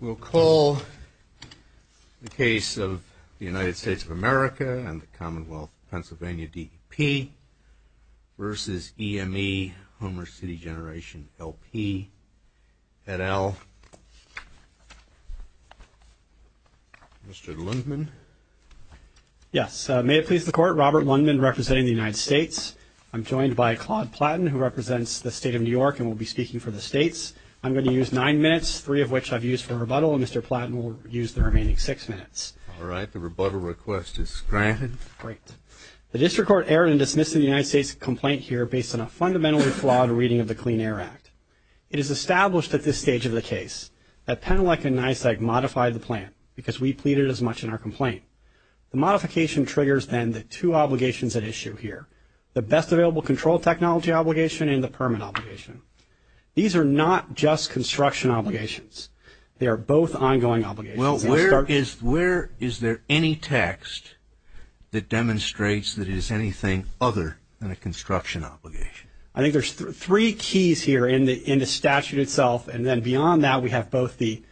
We'll call the case of the United States of America and the Commonwealth of Pennsylvania DEP versus EMEHomer City Generation LP et al. Mr. Lundman. Yes. May it please the Court, Robert Lundman representing the United States. I'm joined by Claude Platten who represents the State of New York and will be speaking for the States. I'm going to use nine minutes, three of which I've used for rebuttal and Mr. Platten will use the remaining six minutes. All right. The rebuttal request is granted. Great. The District Court erred in dismissing the United States' complaint here based on a fundamentally flawed reading of the Clean Air Act. It is established at this stage of the case that Penelope and NYSEG modified the plan because we pleaded as much in our complaint. The modification triggers then the two obligations at issue here, the best available control technology obligation and the permit obligation. These are not just construction obligations. They are both ongoing obligations. Well, where is there any text that demonstrates that it is anything other than a construction obligation? I think there's three keys here in the statute itself and then beyond that we have both the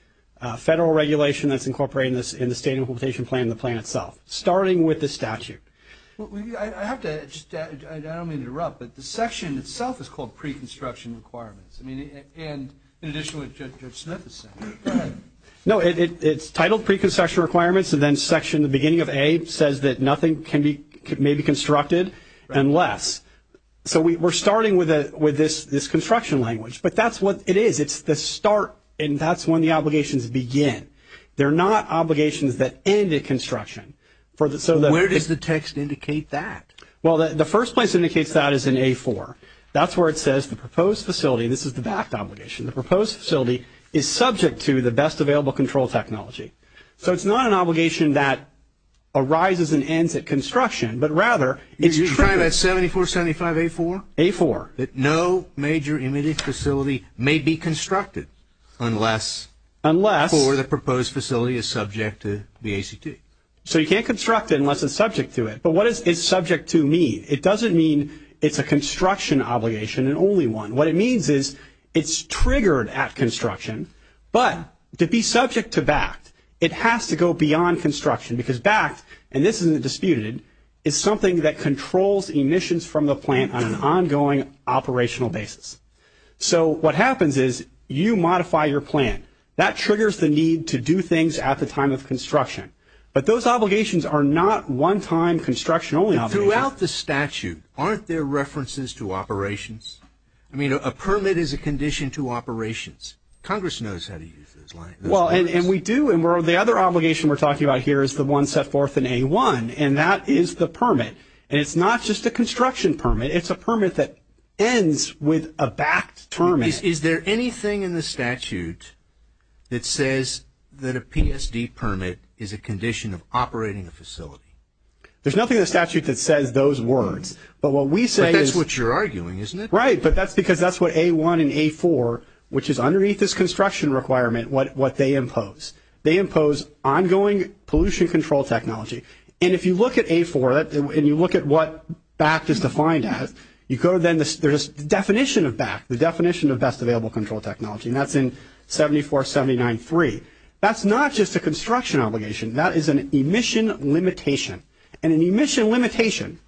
federal regulation that's incorporated in the State Implementation Plan and the plan itself, starting with the statute. I have to, I don't mean to interrupt, but the section itself is called Pre-Construction Requirements. I mean, and in addition to what Judge Smith is saying. No, it's titled Pre-Construction Requirements and then section, the beginning of A says that nothing can be, may be constructed unless. So we're starting with this construction language, but that's what it is. It's the start and that's when the obligations begin. They're not obligations that end at construction. Where does the text indicate that? Well, the first place it indicates that is in A-4. That's where it says the proposed facility, this is the back obligation, the proposed facility is subject to the best available control technology. So it's not an obligation that arises and ends at construction, but rather it's. You're trying that 74-75-A-4? A-4. That no major immediate facility may be constructed unless, for the proposed facility is subject to the ACT. So you can't construct it unless it's subject to it, but what is subject to mean? It doesn't mean it's a construction obligation and only one. What it means is it's triggered at construction, but to be subject to BACT, it has to go beyond construction because BACT, and this isn't disputed, is something that controls emissions from the plant on an ongoing operational basis. So what happens is you modify your plan. That triggers the need to do things at the time of construction, but those obligations are not one-time construction only obligations. Throughout the statute, aren't there references to operations? I mean, a permit is a condition to operations. Congress knows how to use those lines. Well, and we do, and the other obligation we're talking about here is the one set forth in A-1, and that is the permit, and it's not just a construction permit. It's a permit that ends with a BACT permit. Is there anything in the statute that says that a PSD permit is a condition of operating a facility? There's nothing in the statute that says those words, but what we say is... But that's what you're arguing, isn't it? Right, but that's because that's what A-1 and A-4, which is underneath this construction requirement, what they impose. They impose ongoing pollution control technology, and if you look at A-4 and you look at what You go to then the definition of BACT, the definition of best available control technology, and that's in 74-79-3. That's not just a construction obligation. That is an emission limitation, and an emission limitation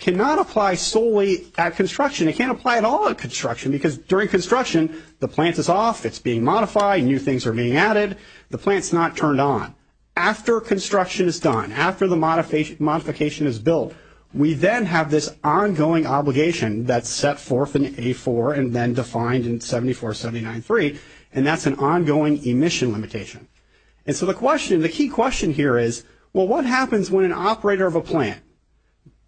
cannot apply solely at construction. It can't apply at all at construction, because during construction, the plant is off. It's being modified. New things are being added. The plant's not turned on. After construction is done, after the modification is built, we then have this ongoing obligation that's set forth in A-4 and then defined in 74-79-3, and that's an ongoing emission limitation. The key question here is, well, what happens when an operator of a plant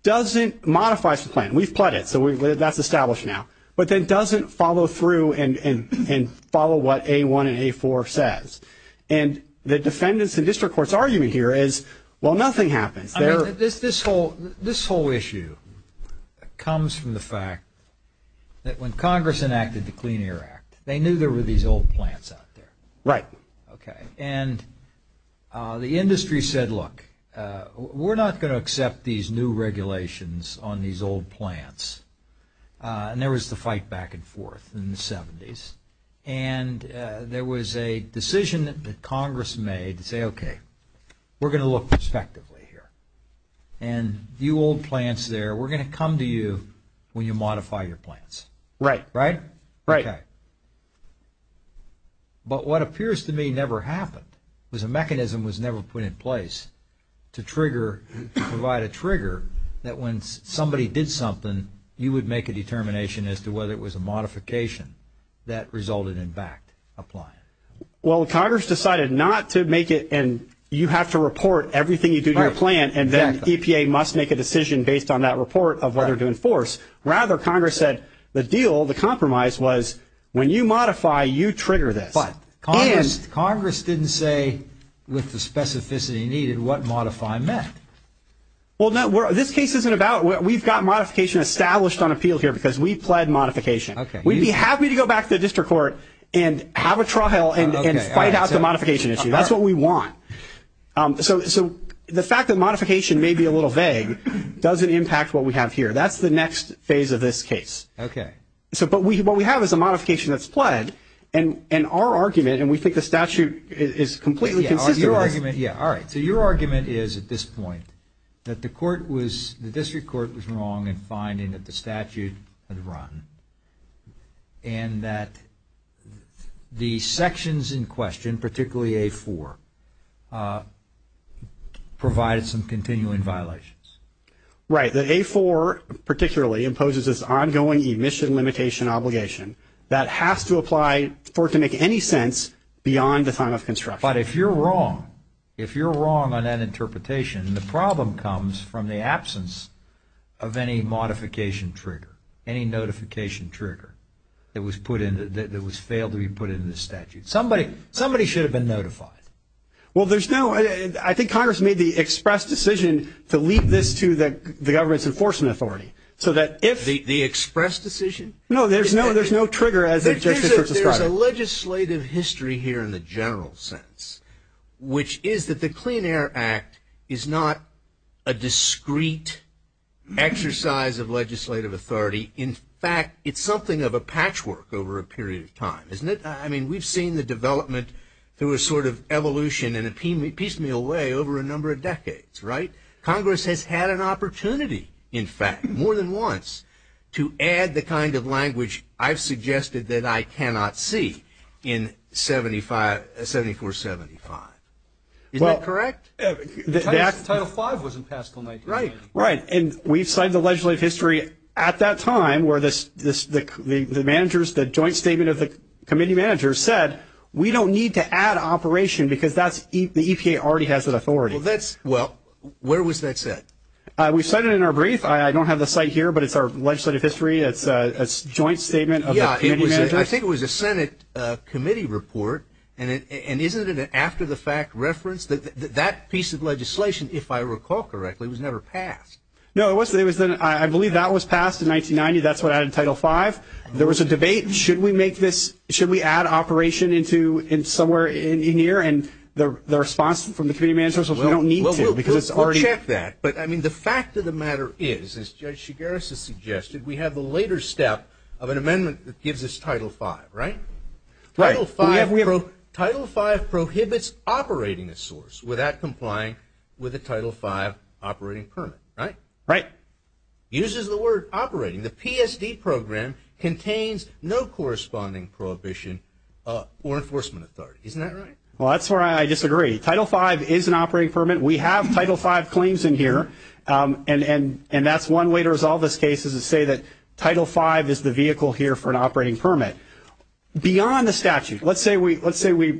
doesn't modify some plant? We've plugged it, so that's established now, but then doesn't follow through and follow what A-1 and A-4 says? The defendant's and district court's argument here is, well, nothing happens. I mean, this whole issue comes from the fact that when Congress enacted the Clean Air Act, they knew there were these old plants out there. Right. Okay. And the industry said, look, we're not going to accept these new regulations on these old plants. And there was the fight back and forth in the 70s, and there was a decision that Congress made to say, okay, we're going to look prospectively here, and you old plants there, we're going to come to you when you modify your plants. Right. Right? Right. Okay. But what appears to me never happened, was a mechanism was never put in place to provide a trigger that when somebody did something, you would make a determination as to whether it was a modification that resulted in backed applying. Well, Congress decided not to make it, and you have to report everything you do to your plant, and then EPA must make a decision based on that report of whether to enforce. Rather, Congress said the deal, the compromise was, when you modify, you trigger this. But Congress didn't say with the specificity needed what modify meant. Well, this case isn't about, we've got modification established on appeal here because we pled modification. Okay. We'd be happy to go back to the district court and have a trial and fight out the modification issue. That's what we want. So the fact that modification may be a little vague doesn't impact what we have here. That's the next phase of this case. Okay. So, but what we have is a modification that's pled, and our argument, and we think the statute is completely consistent with this. Yeah. All right. So your argument is, at this point, that the court was, the district court was wrong in finding that the statute had run, and that the sections in question, particularly A-4, provided some continuing violations. Right. The A-4, particularly, imposes this ongoing emission limitation obligation that has to apply for it to make any sense beyond the time of construction. But if you're wrong, if you're wrong on that interpretation, the problem comes from the absence of any modification trigger, any notification trigger that was put in, that was failed to be put in the statute. Somebody should have been notified. Well there's no, I think Congress made the express decision to leave this to the government's enforcement authority. So that if- The express decision? No, there's no, there's no trigger as the district court described. There's a legislative history here in the general sense, which is that the Clean Air Act is not a discreet exercise of legislative authority. In fact, it's something of a patchwork over a period of time, isn't it? I mean, we've seen the development through a sort of evolution in a piecemeal way over a number of decades, right? Congress has had an opportunity, in fact, more than once, to add the kind of language I've suggested that I cannot see in 7475, is that correct? Well, Title 5 wasn't passed until 1989. Right, and we've signed the legislative history at that time where the joint statement of the committee managers said, we don't need to add operation because the EPA already has that authority. Well, where was that set? We set it in our brief. I don't have the site here, but it's our legislative history. It's a joint statement of the committee managers. I think it was a Senate committee report, and isn't it an after-the-fact reference? That piece of legislation, if I recall correctly, was never passed. No, it wasn't. I believe that was passed in 1990. That's what I had in Title 5. There was a debate, should we add operation somewhere in here, and the response from the committee managers was, we don't need to because it's already- We'll check that, but I mean, the fact of the matter is, as Judge Shigaris has suggested, we have the later step of an amendment that gives us Title 5, right? Right. Title 5 prohibits operating a source without complying with a Title 5 operating permit, right? Right. Uses the word operating. The PSD program contains no corresponding prohibition or enforcement authority, isn't that right? Well, that's where I disagree. Title 5 is an operating permit. We have Title 5 claims in here, and that's one way to resolve this case is to say that Title 5 is the vehicle here for an operating permit. Beyond the statute, let's say we're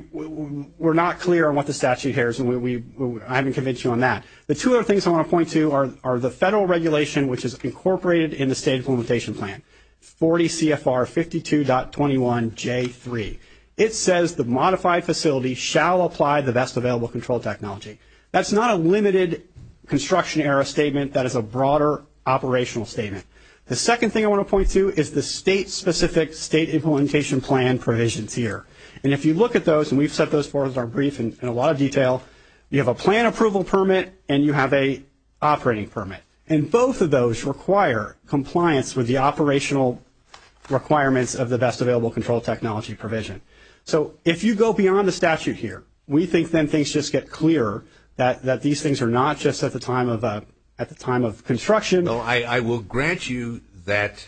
not clear on what the statute here is, and I haven't convinced you on that. The two other things I want to point to are the federal regulation, which is incorporated in the State Implementation Plan, 40 CFR 52.21J3. It says the modified facility shall apply the best available control technology. That's not a limited construction era statement. That is a broader operational statement. The second thing I want to point to is the state-specific State Implementation Plan provisions here. And if you look at those, and we've set those forth as our brief in a lot of detail, you have a plan approval permit, and you have a operating permit. And both of those require compliance with the operational requirements of the best available control technology provision. So if you go beyond the statute here, we think then things just get clearer, that these things are not just at the time of construction. I will grant you that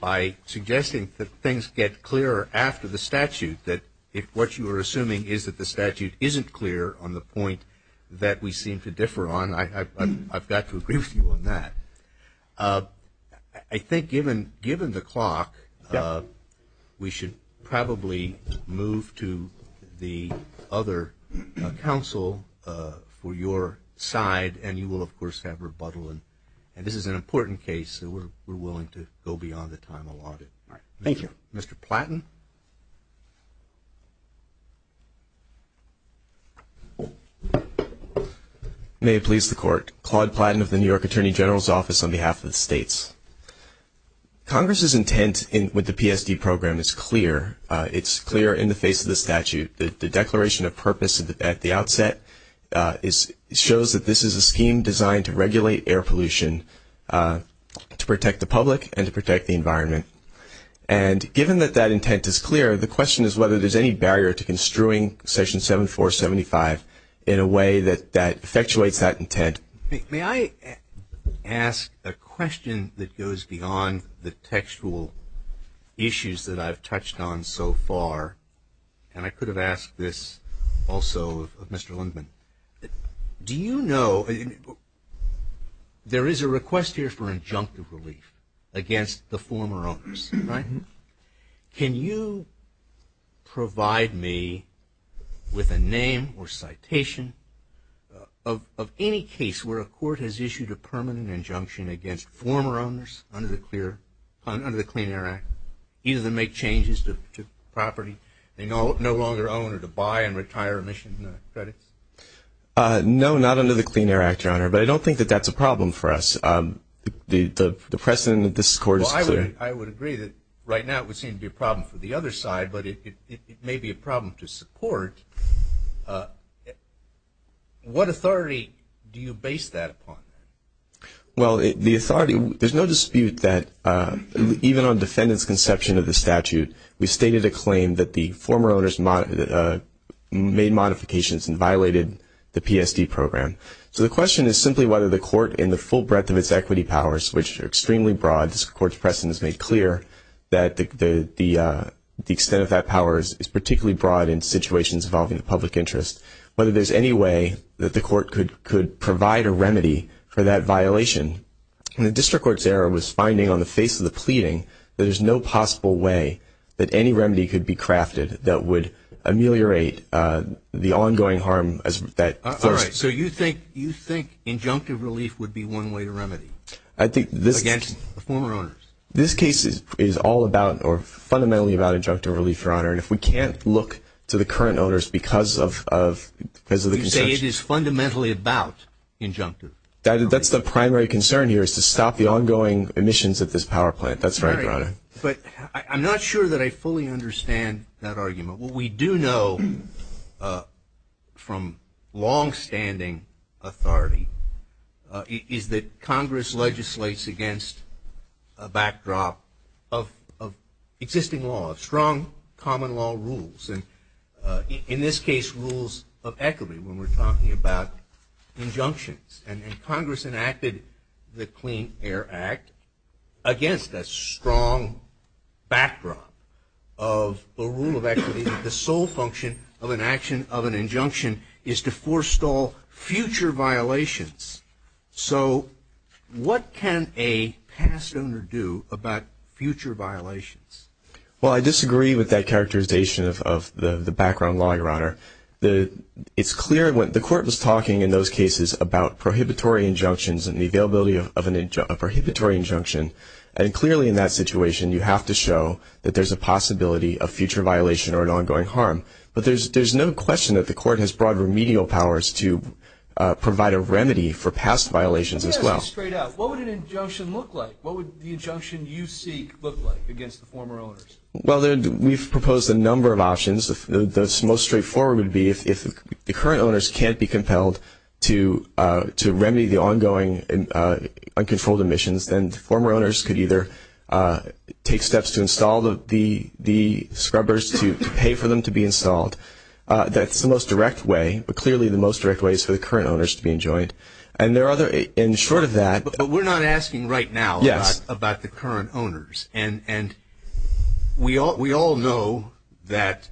by suggesting that things get clearer after the statute, that what you are assuming is that the statute isn't clear on the point that we seem to differ on, I've got to agree with you on that. I think given the clock, we should probably move to the other counsel for your side, and you will, of course, have rebuttal. And this is an important case, so we're willing to go beyond the time allotted. Thank you. Mr. Platton? May it please the court, Claude Platton of the New York Attorney General's Office on behalf of the states. Congress's intent with the PSD program is clear. It's clear in the face of the statute. The declaration of purpose at the outset shows that this is a scheme designed to regulate And given that that intent is clear, the question is whether there's any barrier to construing section 7475 in a way that that effectuates that intent. May I ask a question that goes beyond the textual issues that I've touched on so far? And I could have asked this also of Mr. Lindman. Do you know, there is a request here for injunctive relief against the former owners, right? Can you provide me with a name or citation of any case where a court has issued a permanent injunction against former owners under the Clean Air Act, either to make changes to property they no longer own or to buy and retire emission credits? No, not under the Clean Air Act, Your Honor, but I don't think that's a problem for us. The precedent of this court is clear. I would agree that right now it would seem to be a problem for the other side, but it may be a problem to support. What authority do you base that upon? Well, the authority, there's no dispute that even on defendants' conception of the statute, we stated a claim that the former owners made modifications and violated the PSD program. So the question is simply whether the court in the full breadth of its equity powers, which are extremely broad, this court's precedent is made clear, that the extent of that power is particularly broad in situations involving the public interest, whether there's any way that the court could provide a remedy for that violation. The district court's error was finding on the face of the pleading that there's no possible way that any remedy could be crafted that would ameliorate the ongoing harm as that first. All right. So you think injunctive relief would be one way to remedy against the former owners? This case is all about, or fundamentally about, injunctive relief, Your Honor, and if we can't look to the current owners because of the conception... You say it is fundamentally about injunctive. That's the primary concern here is to stop the ongoing emissions of this power plant. That's right, Your Honor. But I'm not sure that I fully understand that argument. What we do know from longstanding authority is that Congress legislates against a backdrop of existing law, strong common law rules, and in this case, rules of equity when we're And Congress enacted the Clean Air Act against a strong backdrop of a rule of equity that the sole function of an action of an injunction is to forestall future violations. So what can a past owner do about future violations? Well, I disagree with that characterization of the background law, Your Honor. It's clear when the court was talking in those cases about prohibitory injunctions and the availability of a prohibitory injunction, and clearly in that situation, you have to show that there's a possibility of future violation or an ongoing harm, but there's no question that the court has broad remedial powers to provide a remedy for past violations as well. Let me ask you straight out. What would an injunction look like? What would the injunction you seek look like against the former owners? Well, we've proposed a number of options. The most straightforward would be if the current owners can't be compelled to remedy the ongoing uncontrolled emissions, then the former owners could either take steps to install the scrubbers to pay for them to be installed. That's the most direct way, but clearly the most direct way is for the current owners to be enjoined. And there are other... And short of that... But we're not asking right now about the current owners. And we all know that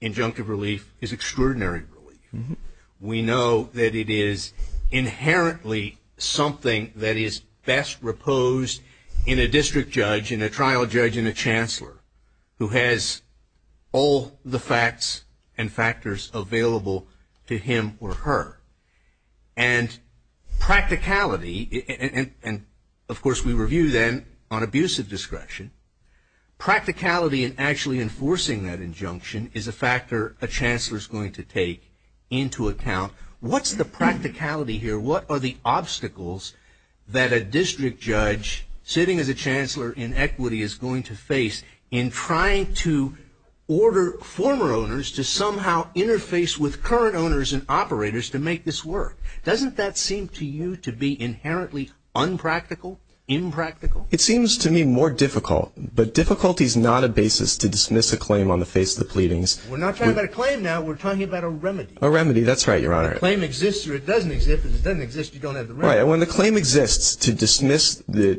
injunctive relief is extraordinary relief. We know that it is inherently something that is best reposed in a district judge, in a trial judge, in a chancellor who has all the facts and factors available to him or her. And practicality... And of course, we review then on abusive discretion. Practicality in actually enforcing that injunction is a factor a chancellor is going to take into account. What's the practicality here? What are the obstacles that a district judge sitting as a chancellor in equity is going to face in trying to order former owners to somehow interface with current owners and make this work? Doesn't that seem to you to be inherently unpractical, impractical? It seems to me more difficult, but difficulty is not a basis to dismiss a claim on the face of the pleadings. We're not talking about a claim now. We're talking about a remedy. A remedy. That's right, Your Honor. A claim exists or it doesn't exist. If it doesn't exist, you don't have the remedy. Right. And when the claim exists, to dismiss the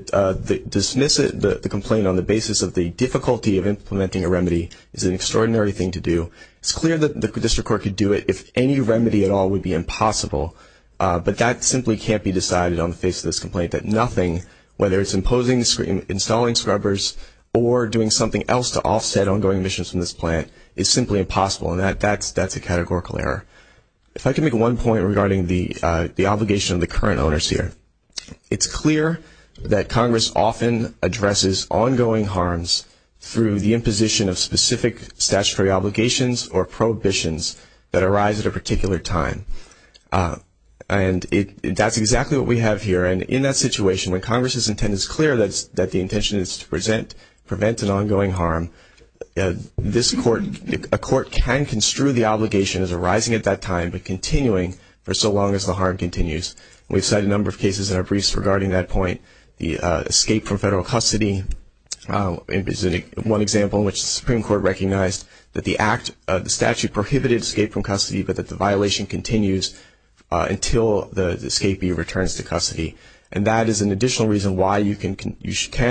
complaint on the basis of the difficulty of implementing a remedy is an extraordinary thing to do. It's clear that the district court could do it if any remedy at all would be impossible, but that simply can't be decided on the face of this complaint, that nothing, whether it's imposing, installing scrubbers, or doing something else to offset ongoing emissions from this plant is simply impossible, and that's a categorical error. If I could make one point regarding the obligation of the current owners here. It's clear that Congress often addresses ongoing harms through the imposition of specific statutory obligations or prohibitions that arise at a particular time, and that's exactly what we have here, and in that situation, when Congress's intent is clear that the intention is to prevent an ongoing harm, a court can construe the obligation as arising at that time but continuing for so long as the harm continues. We've cited a number of cases in our briefs regarding that point. The escape from federal custody is one example in which the Supreme Court recognized that the act, the statute prohibited escape from custody, but that the violation continues until the escapee returns to custody, and that is an additional reason why you can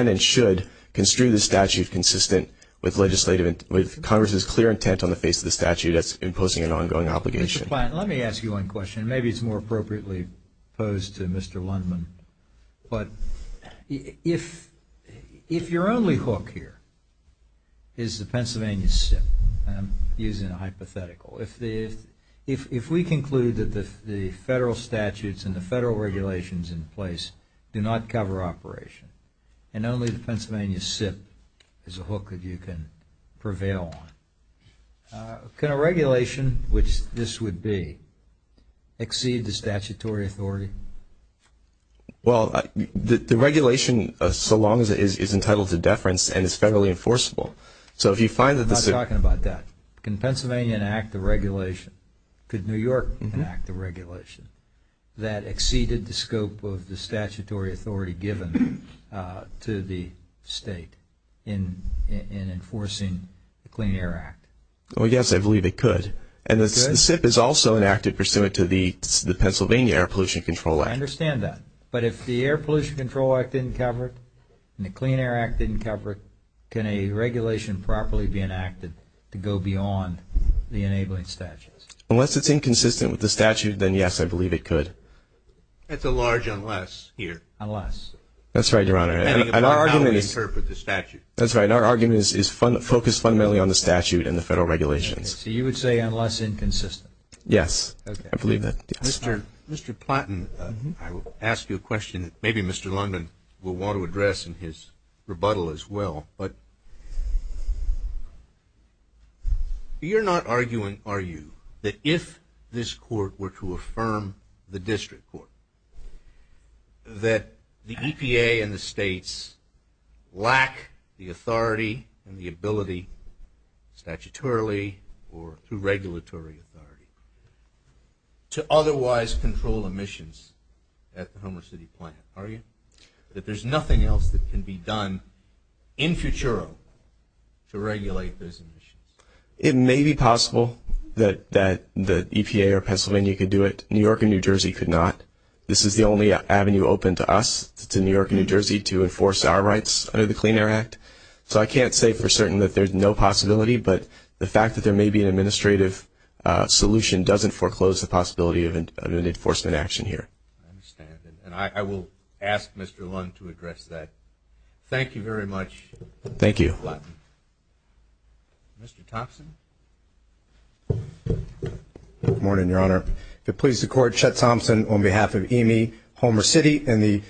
and should construe the statute consistent with legislative, with Congress's clear intent on the face of the statute that's imposing an ongoing obligation. Mr. Plante, let me ask you one question. Maybe it's more appropriately posed to Mr. Lundman, but if your only hook here is the hypothetical, if we conclude that the federal statutes and the federal regulations in place do not cover operation, and only the Pennsylvania SIP is a hook that you can prevail on, can a regulation, which this would be, exceed the statutory authority? Well, the regulation, so long as it is entitled to deference and is federally enforceable, so if you find that the SIP... I'm not talking about that. Can Pennsylvania enact the regulation? Could New York enact the regulation that exceeded the scope of the statutory authority given to the state in enforcing the Clean Air Act? Well, yes, I believe it could, and the SIP is also enacted pursuant to the Pennsylvania Air Pollution Control Act. I understand that, but if the Air Pollution Control Act didn't cover it, and the Clean Air Act didn't cover it, can a regulation properly be enacted to go beyond the enabling statutes? Unless it's inconsistent with the statute, then yes, I believe it could. That's a large unless here. Unless. That's right, Your Honor. Depending on how we interpret the statute. That's right, our argument is focused fundamentally on the statute and the federal regulations. So you would say unless inconsistent? Yes, I believe that. Mr. Platton, I will ask you a question that maybe Mr. London will want to address in his rebuttal as well, but you're not arguing, are you, that if this court were to affirm the district court that the EPA and the states lack the authority and the ability statutorily or through regulatory authority to otherwise control emissions at the Homer City plant, are you, that there's nothing else that can be done in futuro to regulate those emissions? It may be possible that the EPA or Pennsylvania could do it. New York and New Jersey could not. This is the only avenue open to us, to New York and New Jersey, to enforce our rights under the Clean Air Act. So I can't say for certain that there's no possibility, but the fact that there may be an administrative solution doesn't foreclose the possibility of an enforcement action here. I understand, and I will ask Mr. London to address that. Thank you very much, Mr. Platton. Mr. Thompson? Good morning, Your Honor. If it pleases the Court, Chet Thompson on behalf of EME Homer City and the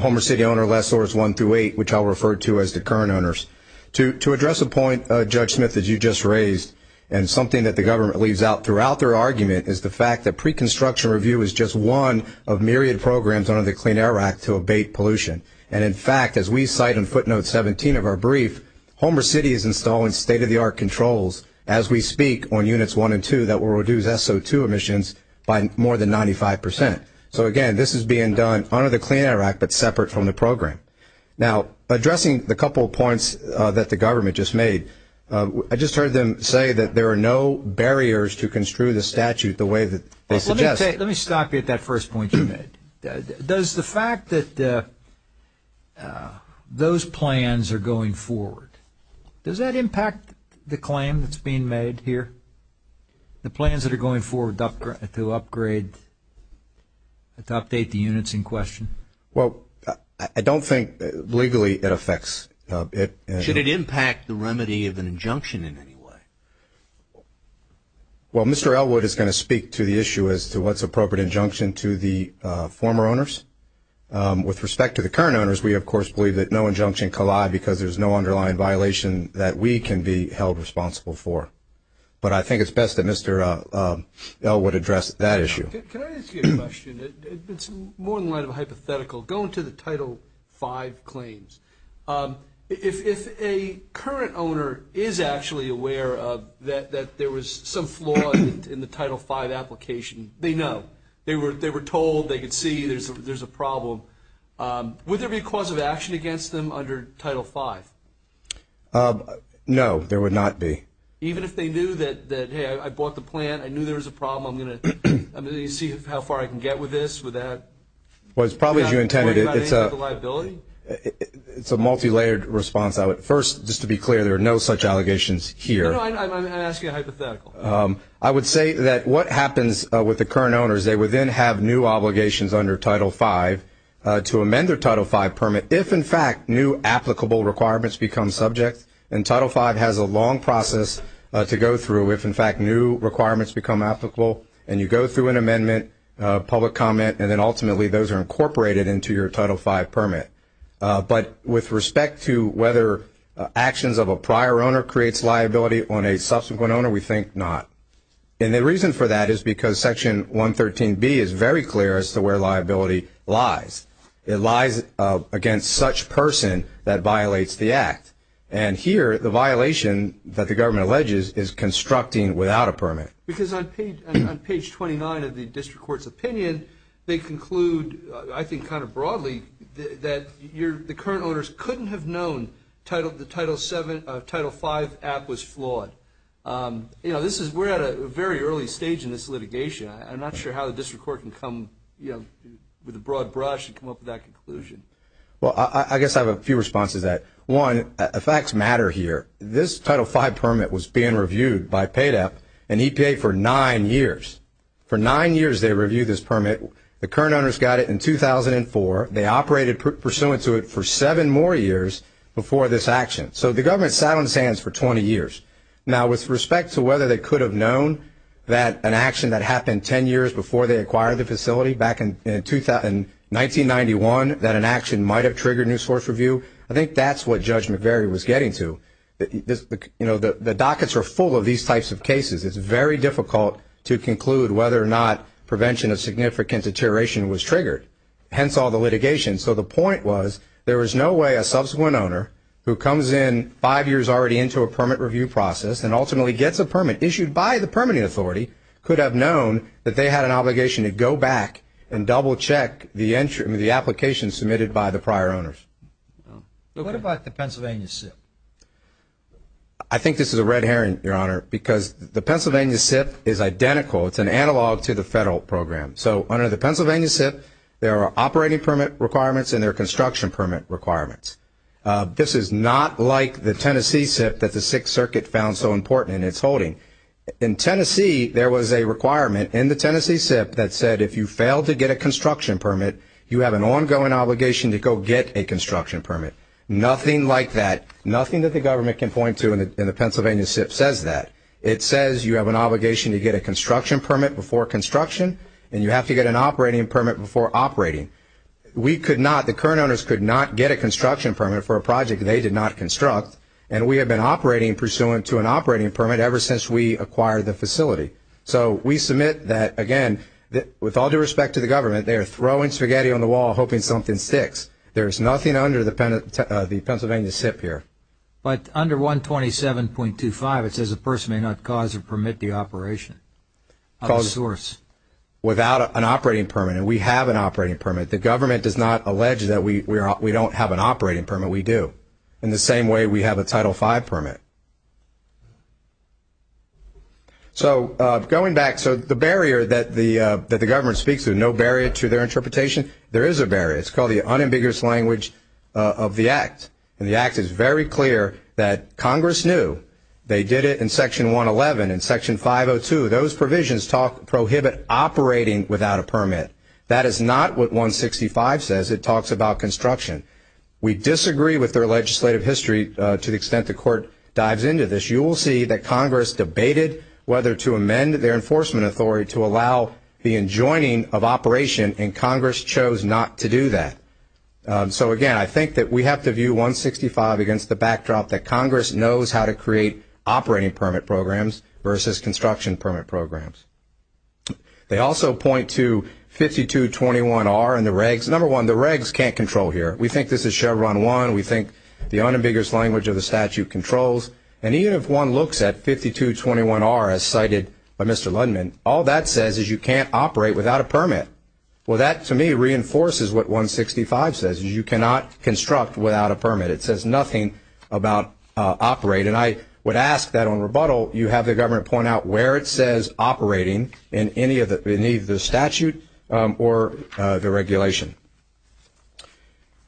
Homer City owner lessors 1 through 8, which I'll refer to as the current owners. To address a point, Judge Smith, that you just raised, and something that the government leaves out throughout their argument, is the fact that pre-construction review is just one of myriad programs under the Clean Air Act to abate pollution. And in fact, as we cite in footnote 17 of our brief, Homer City is installing state-of-the-art controls as we speak on Units 1 and 2 that will reduce SO2 emissions by more than 95%. So again, this is being done under the Clean Air Act, but separate from the program. Now, addressing the couple of points that the government just made, I just heard them say that there are no barriers to construe the statute the way that they suggest. Let me stop you at that first point you made. Does the fact that those plans are going forward, does that impact the claim that's being made here? The plans that are going forward to upgrade, to update the units in question? Well, I don't think legally it affects. Should it impact the remedy of an injunction in any way? Well, Mr. Elwood is going to speak to the issue as to what's appropriate injunction to the former owners. With respect to the current owners, we, of course, believe that no injunction collide because there's no underlying violation that we can be held responsible for. But I think it's best that Mr. Elwood address that issue. Can I ask you a question? It's more than a hypothetical. Going to the Title 5 claims, if a current owner is actually aware that there was some flaw in the Title 5 application, they know. They were told, they could see there's a problem. Would there be a cause of action against them under Title 5? No, there would not be. Even if they knew that, hey, I bought the plan, I knew there was a problem, I'm going to see how far I can get with this, with that? Well, it's probably as you intended it. It's a multi-layered response. First, just to be clear, there are no such allegations here. No, no, I'm asking a hypothetical. I would say that what happens with the current owners, they would then have new obligations under Title 5 to amend their Title 5 permit if, in fact, new applicable requirements become subject. And Title 5 has a long process to go through if, in fact, new requirements become applicable. And you go through an amendment, public comment, and then ultimately those are incorporated into your Title 5 permit. But with respect to whether actions of a prior owner creates liability on a subsequent owner, we think not. And the reason for that is because Section 113B is very clear as to where liability lies. It lies against such person that violates the act. And here, the violation that the government alleges is constructing without a permit. Because on page 29 of the district court's opinion, they conclude, I think kind of broadly, that the current owners couldn't have known the Title 5 app was flawed. You know, we're at a very early stage in this litigation. I'm not sure how the district court can come with a broad brush and come up with that conclusion. Well, I guess I have a few responses to that. One, facts matter here. This Title 5 permit was being reviewed by PADEP and EPA for nine years. For nine years they reviewed this permit. The current owners got it in 2004. They operated pursuant to it for seven more years before this action. So the government sat on its hands for 20 years. Now, with respect to whether they could have known that an action that happened ten years before they acquired the facility back in 1991, that an action might have triggered new source review, I think that's what Judge McVeary was getting to. You know, the dockets are full of these types of cases. It's very difficult to conclude whether or not prevention of significant deterioration was triggered, hence all the litigation. So the point was there was no way a subsequent owner who comes in five years already into a permit review process and ultimately gets a permit issued by the permitting authority could have known that they had an obligation to go back and double-check the application submitted by the prior owners. What about the Pennsylvania SIP? I think this is a red herring, Your Honor, because the Pennsylvania SIP is identical. It's an analog to the federal program. So under the Pennsylvania SIP, there are operating permit requirements and there are construction permit requirements. This is not like the Tennessee SIP that the Sixth Circuit found so important in its holding. In Tennessee, there was a requirement in the Tennessee SIP that said if you failed to get a construction permit, you have an ongoing obligation to go get a construction permit. Nothing like that, nothing that the government can point to in the Pennsylvania SIP says that. It says you have an obligation to get a construction permit before construction and you have to get an operating permit before operating. We could not, the current owners could not get a construction permit for a project they did not construct, and we have been operating pursuant to an operating permit ever since we acquired the facility. So we submit that, again, with all due respect to the government, they are throwing spaghetti on the wall hoping something sticks. There is nothing under the Pennsylvania SIP here. But under 127.25, it says a person may not cause or permit the operation of a source. Without an operating permit, and we have an operating permit, the government does not allege that we don't have an operating permit, we do. In the same way we have a Title V permit. So going back, so the barrier that the government speaks to, no barrier to their interpretation, there is a barrier. It's called the unambiguous language of the Act. And the Act is very clear that Congress knew they did it in Section 111. In Section 502, those provisions prohibit operating without a permit. That is not what 165 says. It talks about construction. We disagree with their legislative history to the extent the court dives into this. You will see that Congress debated whether to amend their enforcement authority to allow the enjoining of operation, and Congress chose not to do that. So, again, I think that we have to view 165 against the backdrop that Congress knows how to create operating permit programs versus construction permit programs. They also point to 5221R and the regs. Number one, the regs can't control here. We think this is Chevron 1. We think the unambiguous language of the statute controls. And even if one looks at 5221R, as cited by Mr. Lundman, all that says is you can't operate without a permit. Well, that, to me, reinforces what 165 says, is you cannot construct without a permit. It says nothing about operate. And I would ask that on rebuttal you have the government point out where it says operating in any of the statute or the regulation.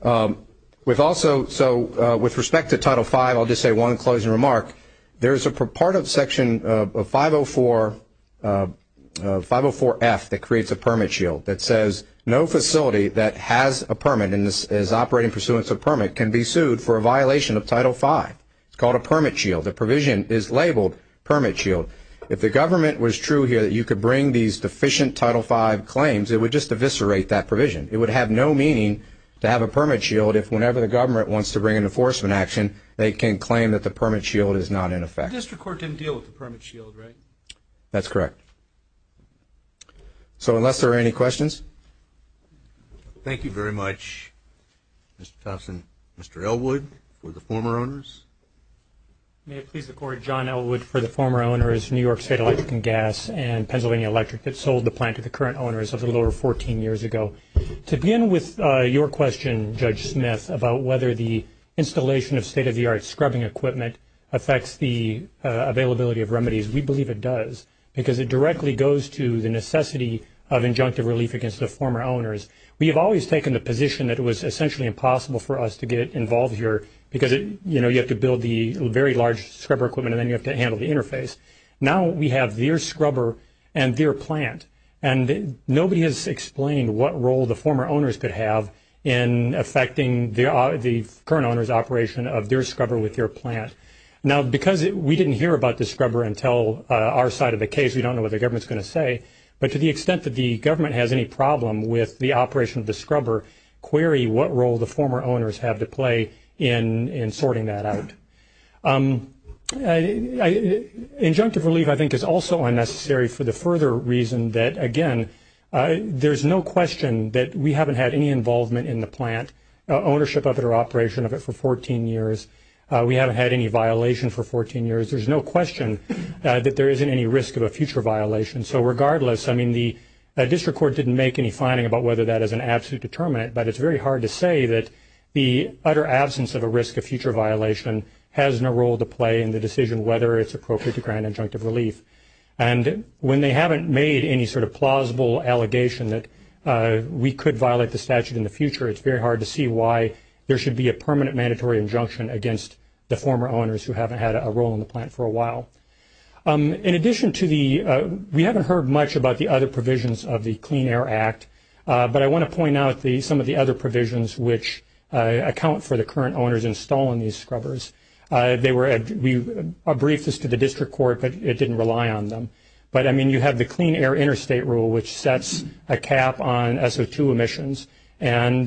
With respect to Title V, I'll just say one closing remark. There is a part of Section 504F that creates a permit shield that says no facility that has a permit and is operating pursuant to a permit can be sued for a violation of Title V. It's called a permit shield. The provision is labeled permit shield. If the government was true here that you could bring these deficient Title V claims, it would just eviscerate that provision. It would have no meaning to have a permit shield if whenever the government wants to bring an enforcement action, they can claim that the permit shield is not in effect. The district court didn't deal with the permit shield, right? That's correct. So unless there are any questions. Thank you very much, Mr. Thompson. Mr. Elwood for the former owners. May it please the Court, John Elwood for the former owners, New York State Electric and Gas and Pennsylvania Electric that sold the plant to the current owners of the lower 14 years ago. To begin with your question, Judge Smith, about whether the installation of state-of-the-art scrubbing equipment affects the availability of remedies, we believe it does because it directly goes to the necessity of injunctive relief against the former owners. We have always taken the position that it was essentially impossible for us to get involved here because, you know, you have to build the very large scrubber equipment and then you have to handle the interface. Now we have their scrubber and their plant, and nobody has explained what role the former owners could have in affecting the current owners' operation of their scrubber with their plant. Now because we didn't hear about the scrubber until our side of the case, we don't know what the government is going to say, but to the extent that the government has any problem with the operation of the scrubber, query what role the former owners have to play in sorting that out. Injunctive relief I think is also unnecessary for the further reason that, again, there's no question that we haven't had any involvement in the plant, ownership of it or operation of it for 14 years. We haven't had any violation for 14 years. There's no question that there isn't any risk of a future violation. So regardless, I mean, the district court didn't make any finding about whether that is an absolute determinant, but it's very hard to say that the utter absence of a risk of future violation has no role to play in the decision whether it's appropriate to grant injunctive relief. And when they haven't made any sort of plausible allegation that we could violate the statute in the future, it's very hard to see why there should be a permanent mandatory injunction against the former owners who haven't had a role in the plant for a while. In addition to the – we haven't heard much about the other provisions of the Clean Air Act, but I want to point out some of the other provisions which account for the current owners installing these scrubbers. They were – we briefed this to the district court, but it didn't rely on them. But, I mean, you have the Clean Air Interstate Rule, which sets a cap on SO2 emissions and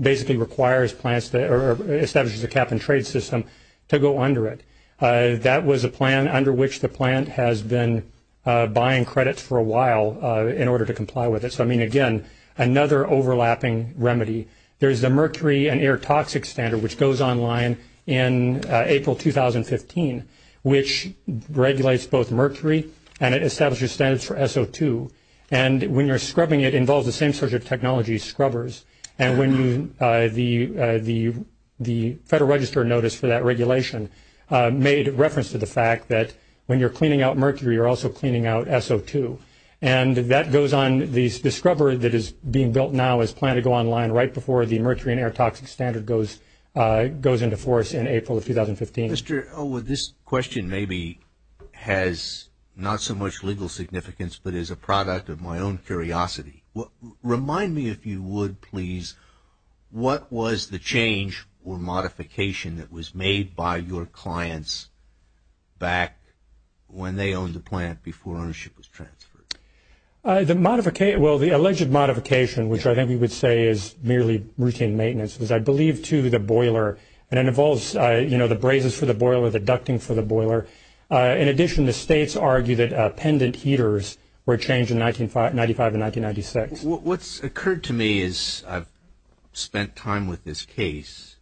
basically requires plants – or establishes a cap and trade system to go under it. That was a plan under which the plant has been buying credits for a while in order to comply with it. So, I mean, again, another overlapping remedy. There's the Mercury and Air Toxic Standard, which goes online in April 2015, which regulates both mercury and it establishes standards for SO2. And when you're scrubbing it, it involves the same sort of technology as scrubbers. And when you – the Federal Register notice for that regulation made reference to the fact that when you're cleaning out mercury, you're also cleaning out SO2. And that goes on – the scrubber that is being built now is planned to go online right before the Mercury and Air Toxic Standard goes into force in April of 2015. Mr. O, this question maybe has not so much legal significance, but is a product of my own curiosity. Remind me, if you would, please, what was the change or modification that was made by your clients back when they owned the plant before ownership was transferred? The modification – well, the alleged modification, which I think we would say is merely routine maintenance, was, I believe, to the boiler. And it involves, you know, the brazes for the boiler, the ducting for the boiler. In addition, the states argue that pendant heaters were changed in 1995 and 1996. What's occurred to me as I've spent time with this case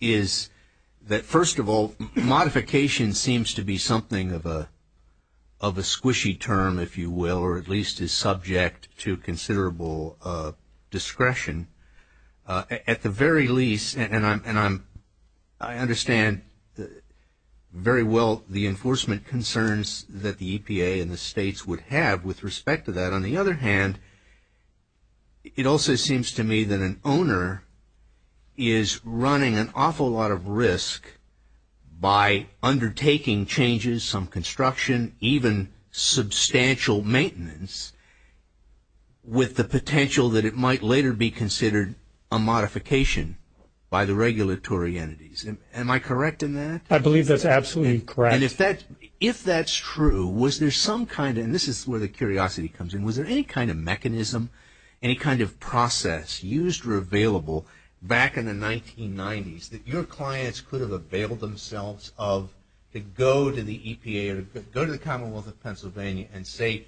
is that, first of all, modification seems to be something of a squishy term, if you will, or at least is subject to considerable discretion. At the very least, and I understand very well the enforcement concerns that the EPA and the states would have with respect to that. But on the other hand, it also seems to me that an owner is running an awful lot of risk by undertaking changes, some construction, even substantial maintenance, with the potential that it might later be considered a modification by the regulatory entities. Am I correct in that? I believe that's absolutely correct. And if that's true, was there some kind of – and this is where the curiosity comes in – was there any kind of mechanism, any kind of process used or available back in the 1990s that your clients could have availed themselves of to go to the EPA or go to the Commonwealth of Pennsylvania and say,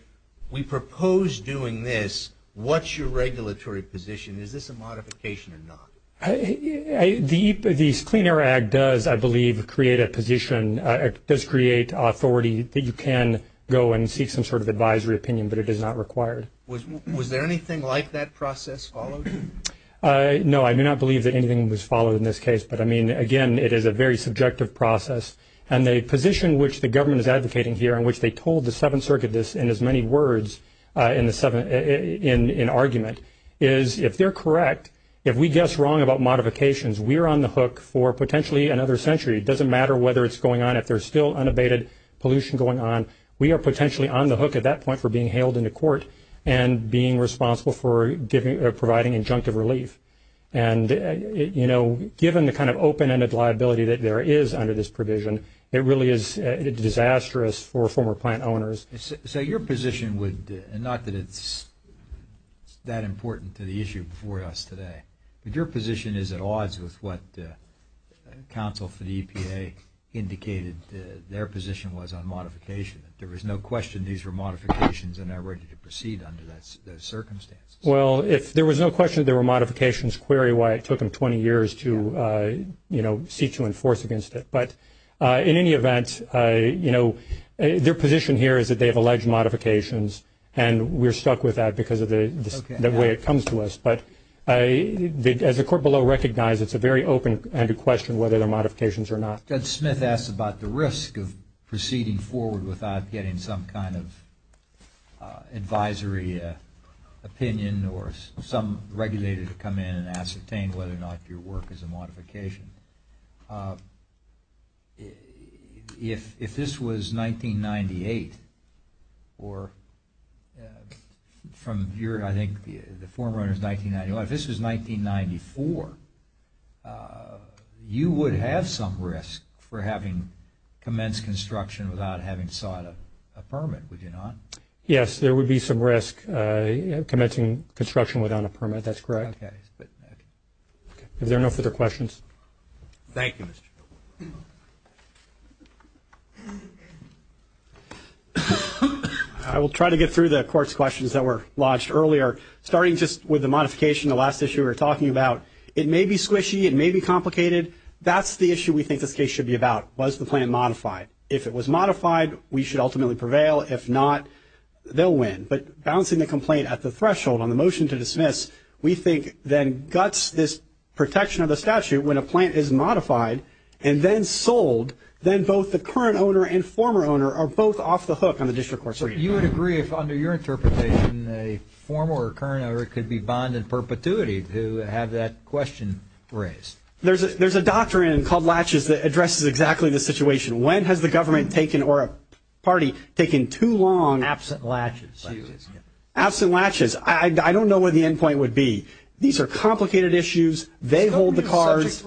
we propose doing this, what's your regulatory position, is this a modification or not? The Clean Air Act does, I believe, create a position, does create authority that you can go and seek some sort of advisory opinion, but it is not required. Was there anything like that process followed? No, I do not believe that anything was followed in this case. But, I mean, again, it is a very subjective process. And the position which the government is advocating here and which they told the Seventh Circuit this in as many words in argument is, if they're correct, if we guess wrong about modifications, we're on the hook for potentially another century. It doesn't matter whether it's going on. If there's still unabated pollution going on, we are potentially on the hook at that point for being hailed into court and being responsible for providing injunctive relief. And, you know, given the kind of open-ended liability that there is under this provision, it really is disastrous for former plant owners. So your position would, and not that it's that important to the issue before us today, but your position is at odds with what counsel for the EPA indicated their position was on modification. There was no question these were modifications and they're ready to proceed under those circumstances. Well, if there was no question there were modifications, query why it took them 20 years to, you know, seek to enforce against it. But in any event, you know, their position here is that they have alleged modifications and we're stuck with that because of the way it comes to us. But as the court below recognized, it's a very open-ended question whether they're modifications or not. Judge Smith asked about the risk of proceeding forward without getting some kind of advisory opinion or some regulator to come in and ascertain whether or not your work is a modification. If this was 1998 or from your, I think, the former owner's 1991, if this was 1994, you would have some risk for having commenced construction without having sought a permit, would you not? Yes, there would be some risk commencing construction without a permit. That's correct. Okay. Is there no further questions? Thank you. I will try to get through the court's questions that were lodged earlier. Starting just with the modification, the last issue we were talking about, it may be squishy. It may be complicated. That's the issue we think this case should be about. Was the plan modified? If it was modified, we should ultimately prevail. If not, they'll win. But balancing the complaint at the threshold on the motion to dismiss, we think then guts this protection of the statute when a plan is modified and then sold, then both the current owner and former owner are both off the hook on the district court's reading. You would agree if under your interpretation a former or current owner could be bond in perpetuity to have that question raised? There's a doctrine called latches that addresses exactly the situation. When has the government taken or a party taken too long? Absent latches. Absent latches. I don't know where the end point would be. These are complicated issues. They hold the cards.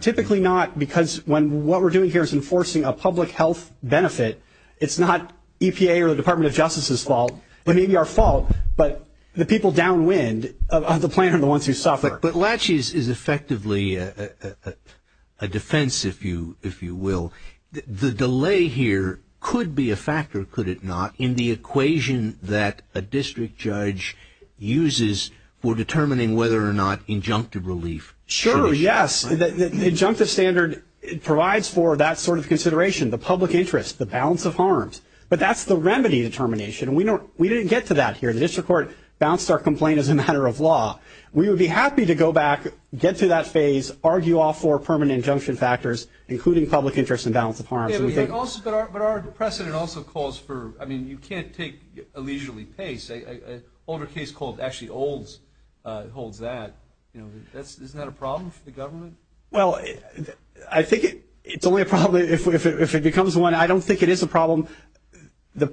Typically not because what we're doing here is enforcing a public health benefit. It's not EPA or the Department of Justice's fault. It may be our fault, but the people downwind of the plan are the ones who suffer. But latches is effectively a defense, if you will. The delay here could be a factor, could it not, in the equation that a district judge uses for determining whether or not injunctive relief. Sure, yes. The injunctive standard provides for that sort of consideration, the public interest, the balance of harms. But that's the remedy determination. We didn't get to that here. The district court bounced our complaint as a matter of law. We would be happy to go back, get to that phase, argue all four permanent injunction factors, including public interest and balance of harms. But our precedent also calls for, I mean, you can't take a leisurely pace. An older case called actually Olds holds that. Isn't that a problem for the government? Well, I think it's only a problem if it becomes one. I don't think it is a problem. The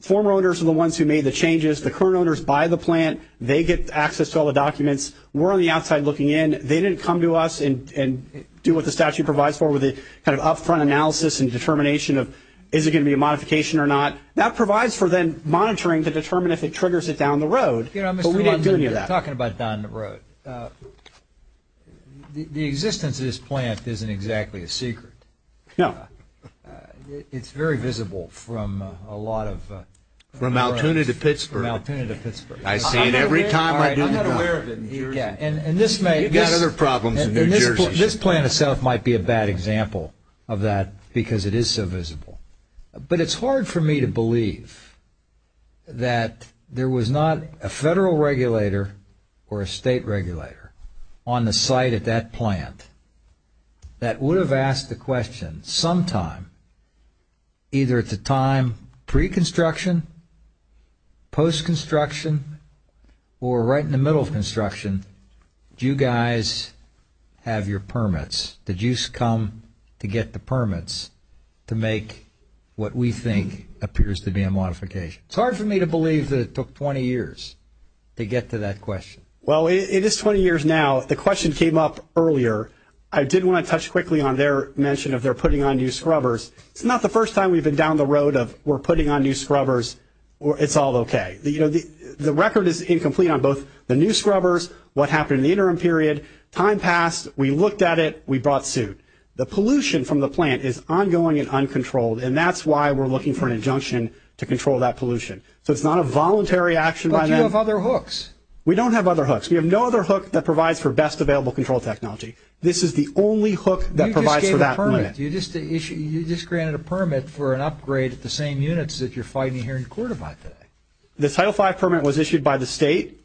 former owners are the ones who made the changes. The current owners buy the plant. They get access to all the documents. We're on the outside looking in. They didn't come to us and do what the statute provides for with the kind of up-front analysis and determination of is it going to be a modification or not. That provides for then monitoring to determine if it triggers it down the road. But we didn't do any of that. Talking about down the road, the existence of this plant isn't exactly a secret. No. It's very visible from a lot of roads. From Altoona to Pittsburgh. From Altoona to Pittsburgh. I see it every time I do the job. I'm not aware of it in New Jersey. You've got other problems in New Jersey. This plant itself might be a bad example of that because it is so visible. But it's hard for me to believe that there was not a federal regulator or a state regulator on the site at that plant that would have asked the question sometime, either at the time pre-construction, post-construction, or right in the middle of construction, do you guys have your permits? Did you come to get the permits to make what we think appears to be a modification? It's hard for me to believe that it took 20 years to get to that question. Well, it is 20 years now. The question came up earlier. I did want to touch quickly on their mention of they're putting on new scrubbers. It's not the first time we've been down the road of we're putting on new scrubbers. It's all okay. The record is incomplete on both the new scrubbers, what happened in the interim period. Time passed. We looked at it. We brought suit. The pollution from the plant is ongoing and uncontrolled, and that's why we're looking for an injunction to control that pollution. So it's not a voluntary action by them. But you have other hooks. We don't have other hooks. We have no other hook that provides for best available control technology. This is the only hook that provides for that limit. You just gave a permit. You just granted a permit for an upgrade at the same units that you're fighting here in court about today. The Title V permit was issued by the state.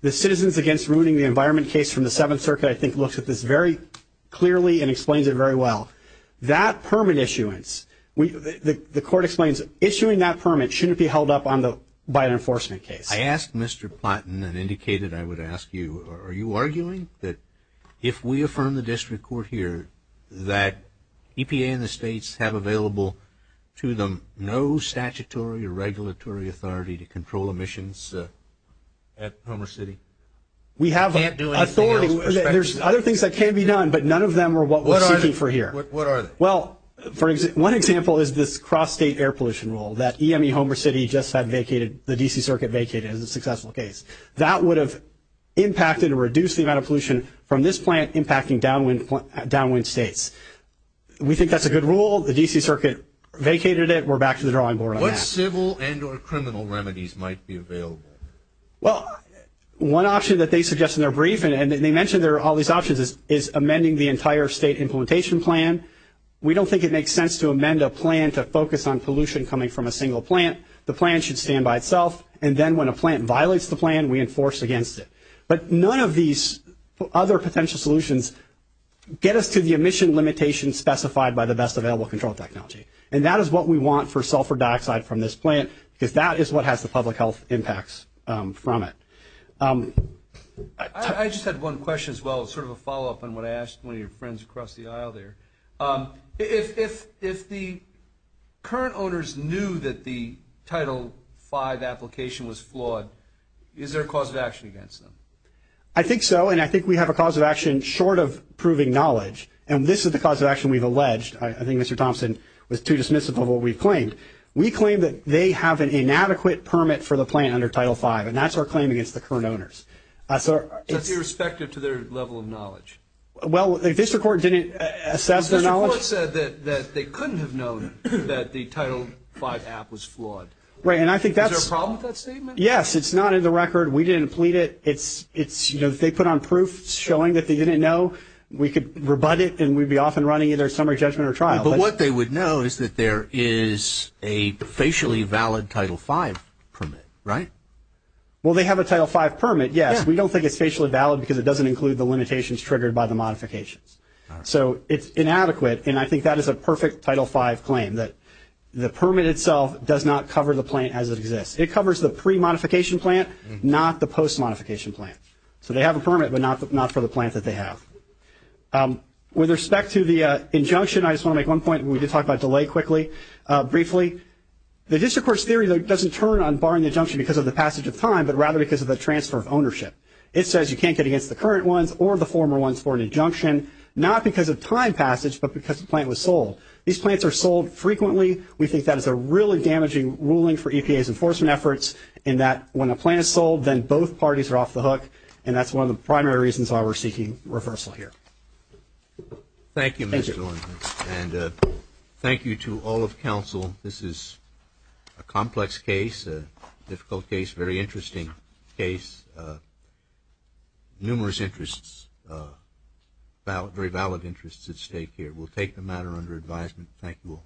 The Citizens Against Ruining the Environment case from the Seventh Circuit, I think, looks at this very clearly and explains it very well. That permit issuance, the court explains, issuing that permit shouldn't be held up by an enforcement case. I asked Mr. Plotin and indicated I would ask you, are you arguing that if we affirm the district court here that EPA and the states have available to them no statutory or regulatory authority to control emissions at Homer City? We have authority. There's other things that can be done, but none of them are what we're seeking for here. What are they? Well, one example is this cross-state air pollution rule that EME Homer City just had vacated, the D.C. Circuit vacated it as a successful case. That would have impacted or reduced the amount of pollution from this plant impacting downwind states. We think that's a good rule. The D.C. Circuit vacated it. We're back to the drawing board on that. What civil and or criminal remedies might be available? Well, one option that they suggest in their briefing, and they mention there are all these options, is amending the entire state implementation plan. We don't think it makes sense to amend a plan to focus on pollution coming from a single plant. The plan should stand by itself, and then when a plant violates the plan, we enforce against it. But none of these other potential solutions get us to the emission limitations specified by the best available control technology. And that is what we want for sulfur dioxide from this plant, because that is what has the public health impacts from it. I just had one question as well, sort of a follow-up on what I asked one of your friends across the aisle there. If the current owners knew that the Title V application was flawed, is there a cause of action against them? I think so, and I think we have a cause of action short of proving knowledge. And this is the cause of action we've alleged. I think Mr. Thompson was too dismissive of what we've claimed. We claim that they have an inadequate permit for the plant under Title V, and that's our claim against the current owners. That's irrespective to their level of knowledge. Well, if district court didn't assess their knowledge. District court said that they couldn't have known that the Title V app was flawed. Right, and I think that's. Is there a problem with that statement? Yes, it's not in the record. We didn't plead it. It's, you know, they put on proof showing that they didn't know. We could rebut it, and we'd be off and running either summary judgment or trial. But what they would know is that there is a facially valid Title V permit, right? Well, they have a Title V permit, yes. We don't think it's facially valid because it doesn't include the limitations triggered by the modifications. So it's inadequate, and I think that is a perfect Title V claim, that the permit itself does not cover the plant as it exists. It covers the pre-modification plant, not the post-modification plant. So they have a permit, but not for the plant that they have. With respect to the injunction, I just want to make one point. We did talk about delay quickly, briefly. The district court's theory, though, doesn't turn on barring the injunction because of the passage of time, but rather because of the transfer of ownership. It says you can't get against the current ones or the former ones for an injunction, not because of time passage, but because the plant was sold. These plants are sold frequently. We think that is a really damaging ruling for EPA's enforcement efforts, in that when a plant is sold, then both parties are off the hook, and that's one of the primary reasons why we're seeking reversal here. Thank you, Mr. Lindholz, and thank you to all of counsel. This is a complex case, a difficult case, a very interesting case, numerous interests, very valid interests at stake here. We'll take the matter under advisement. Thank you all.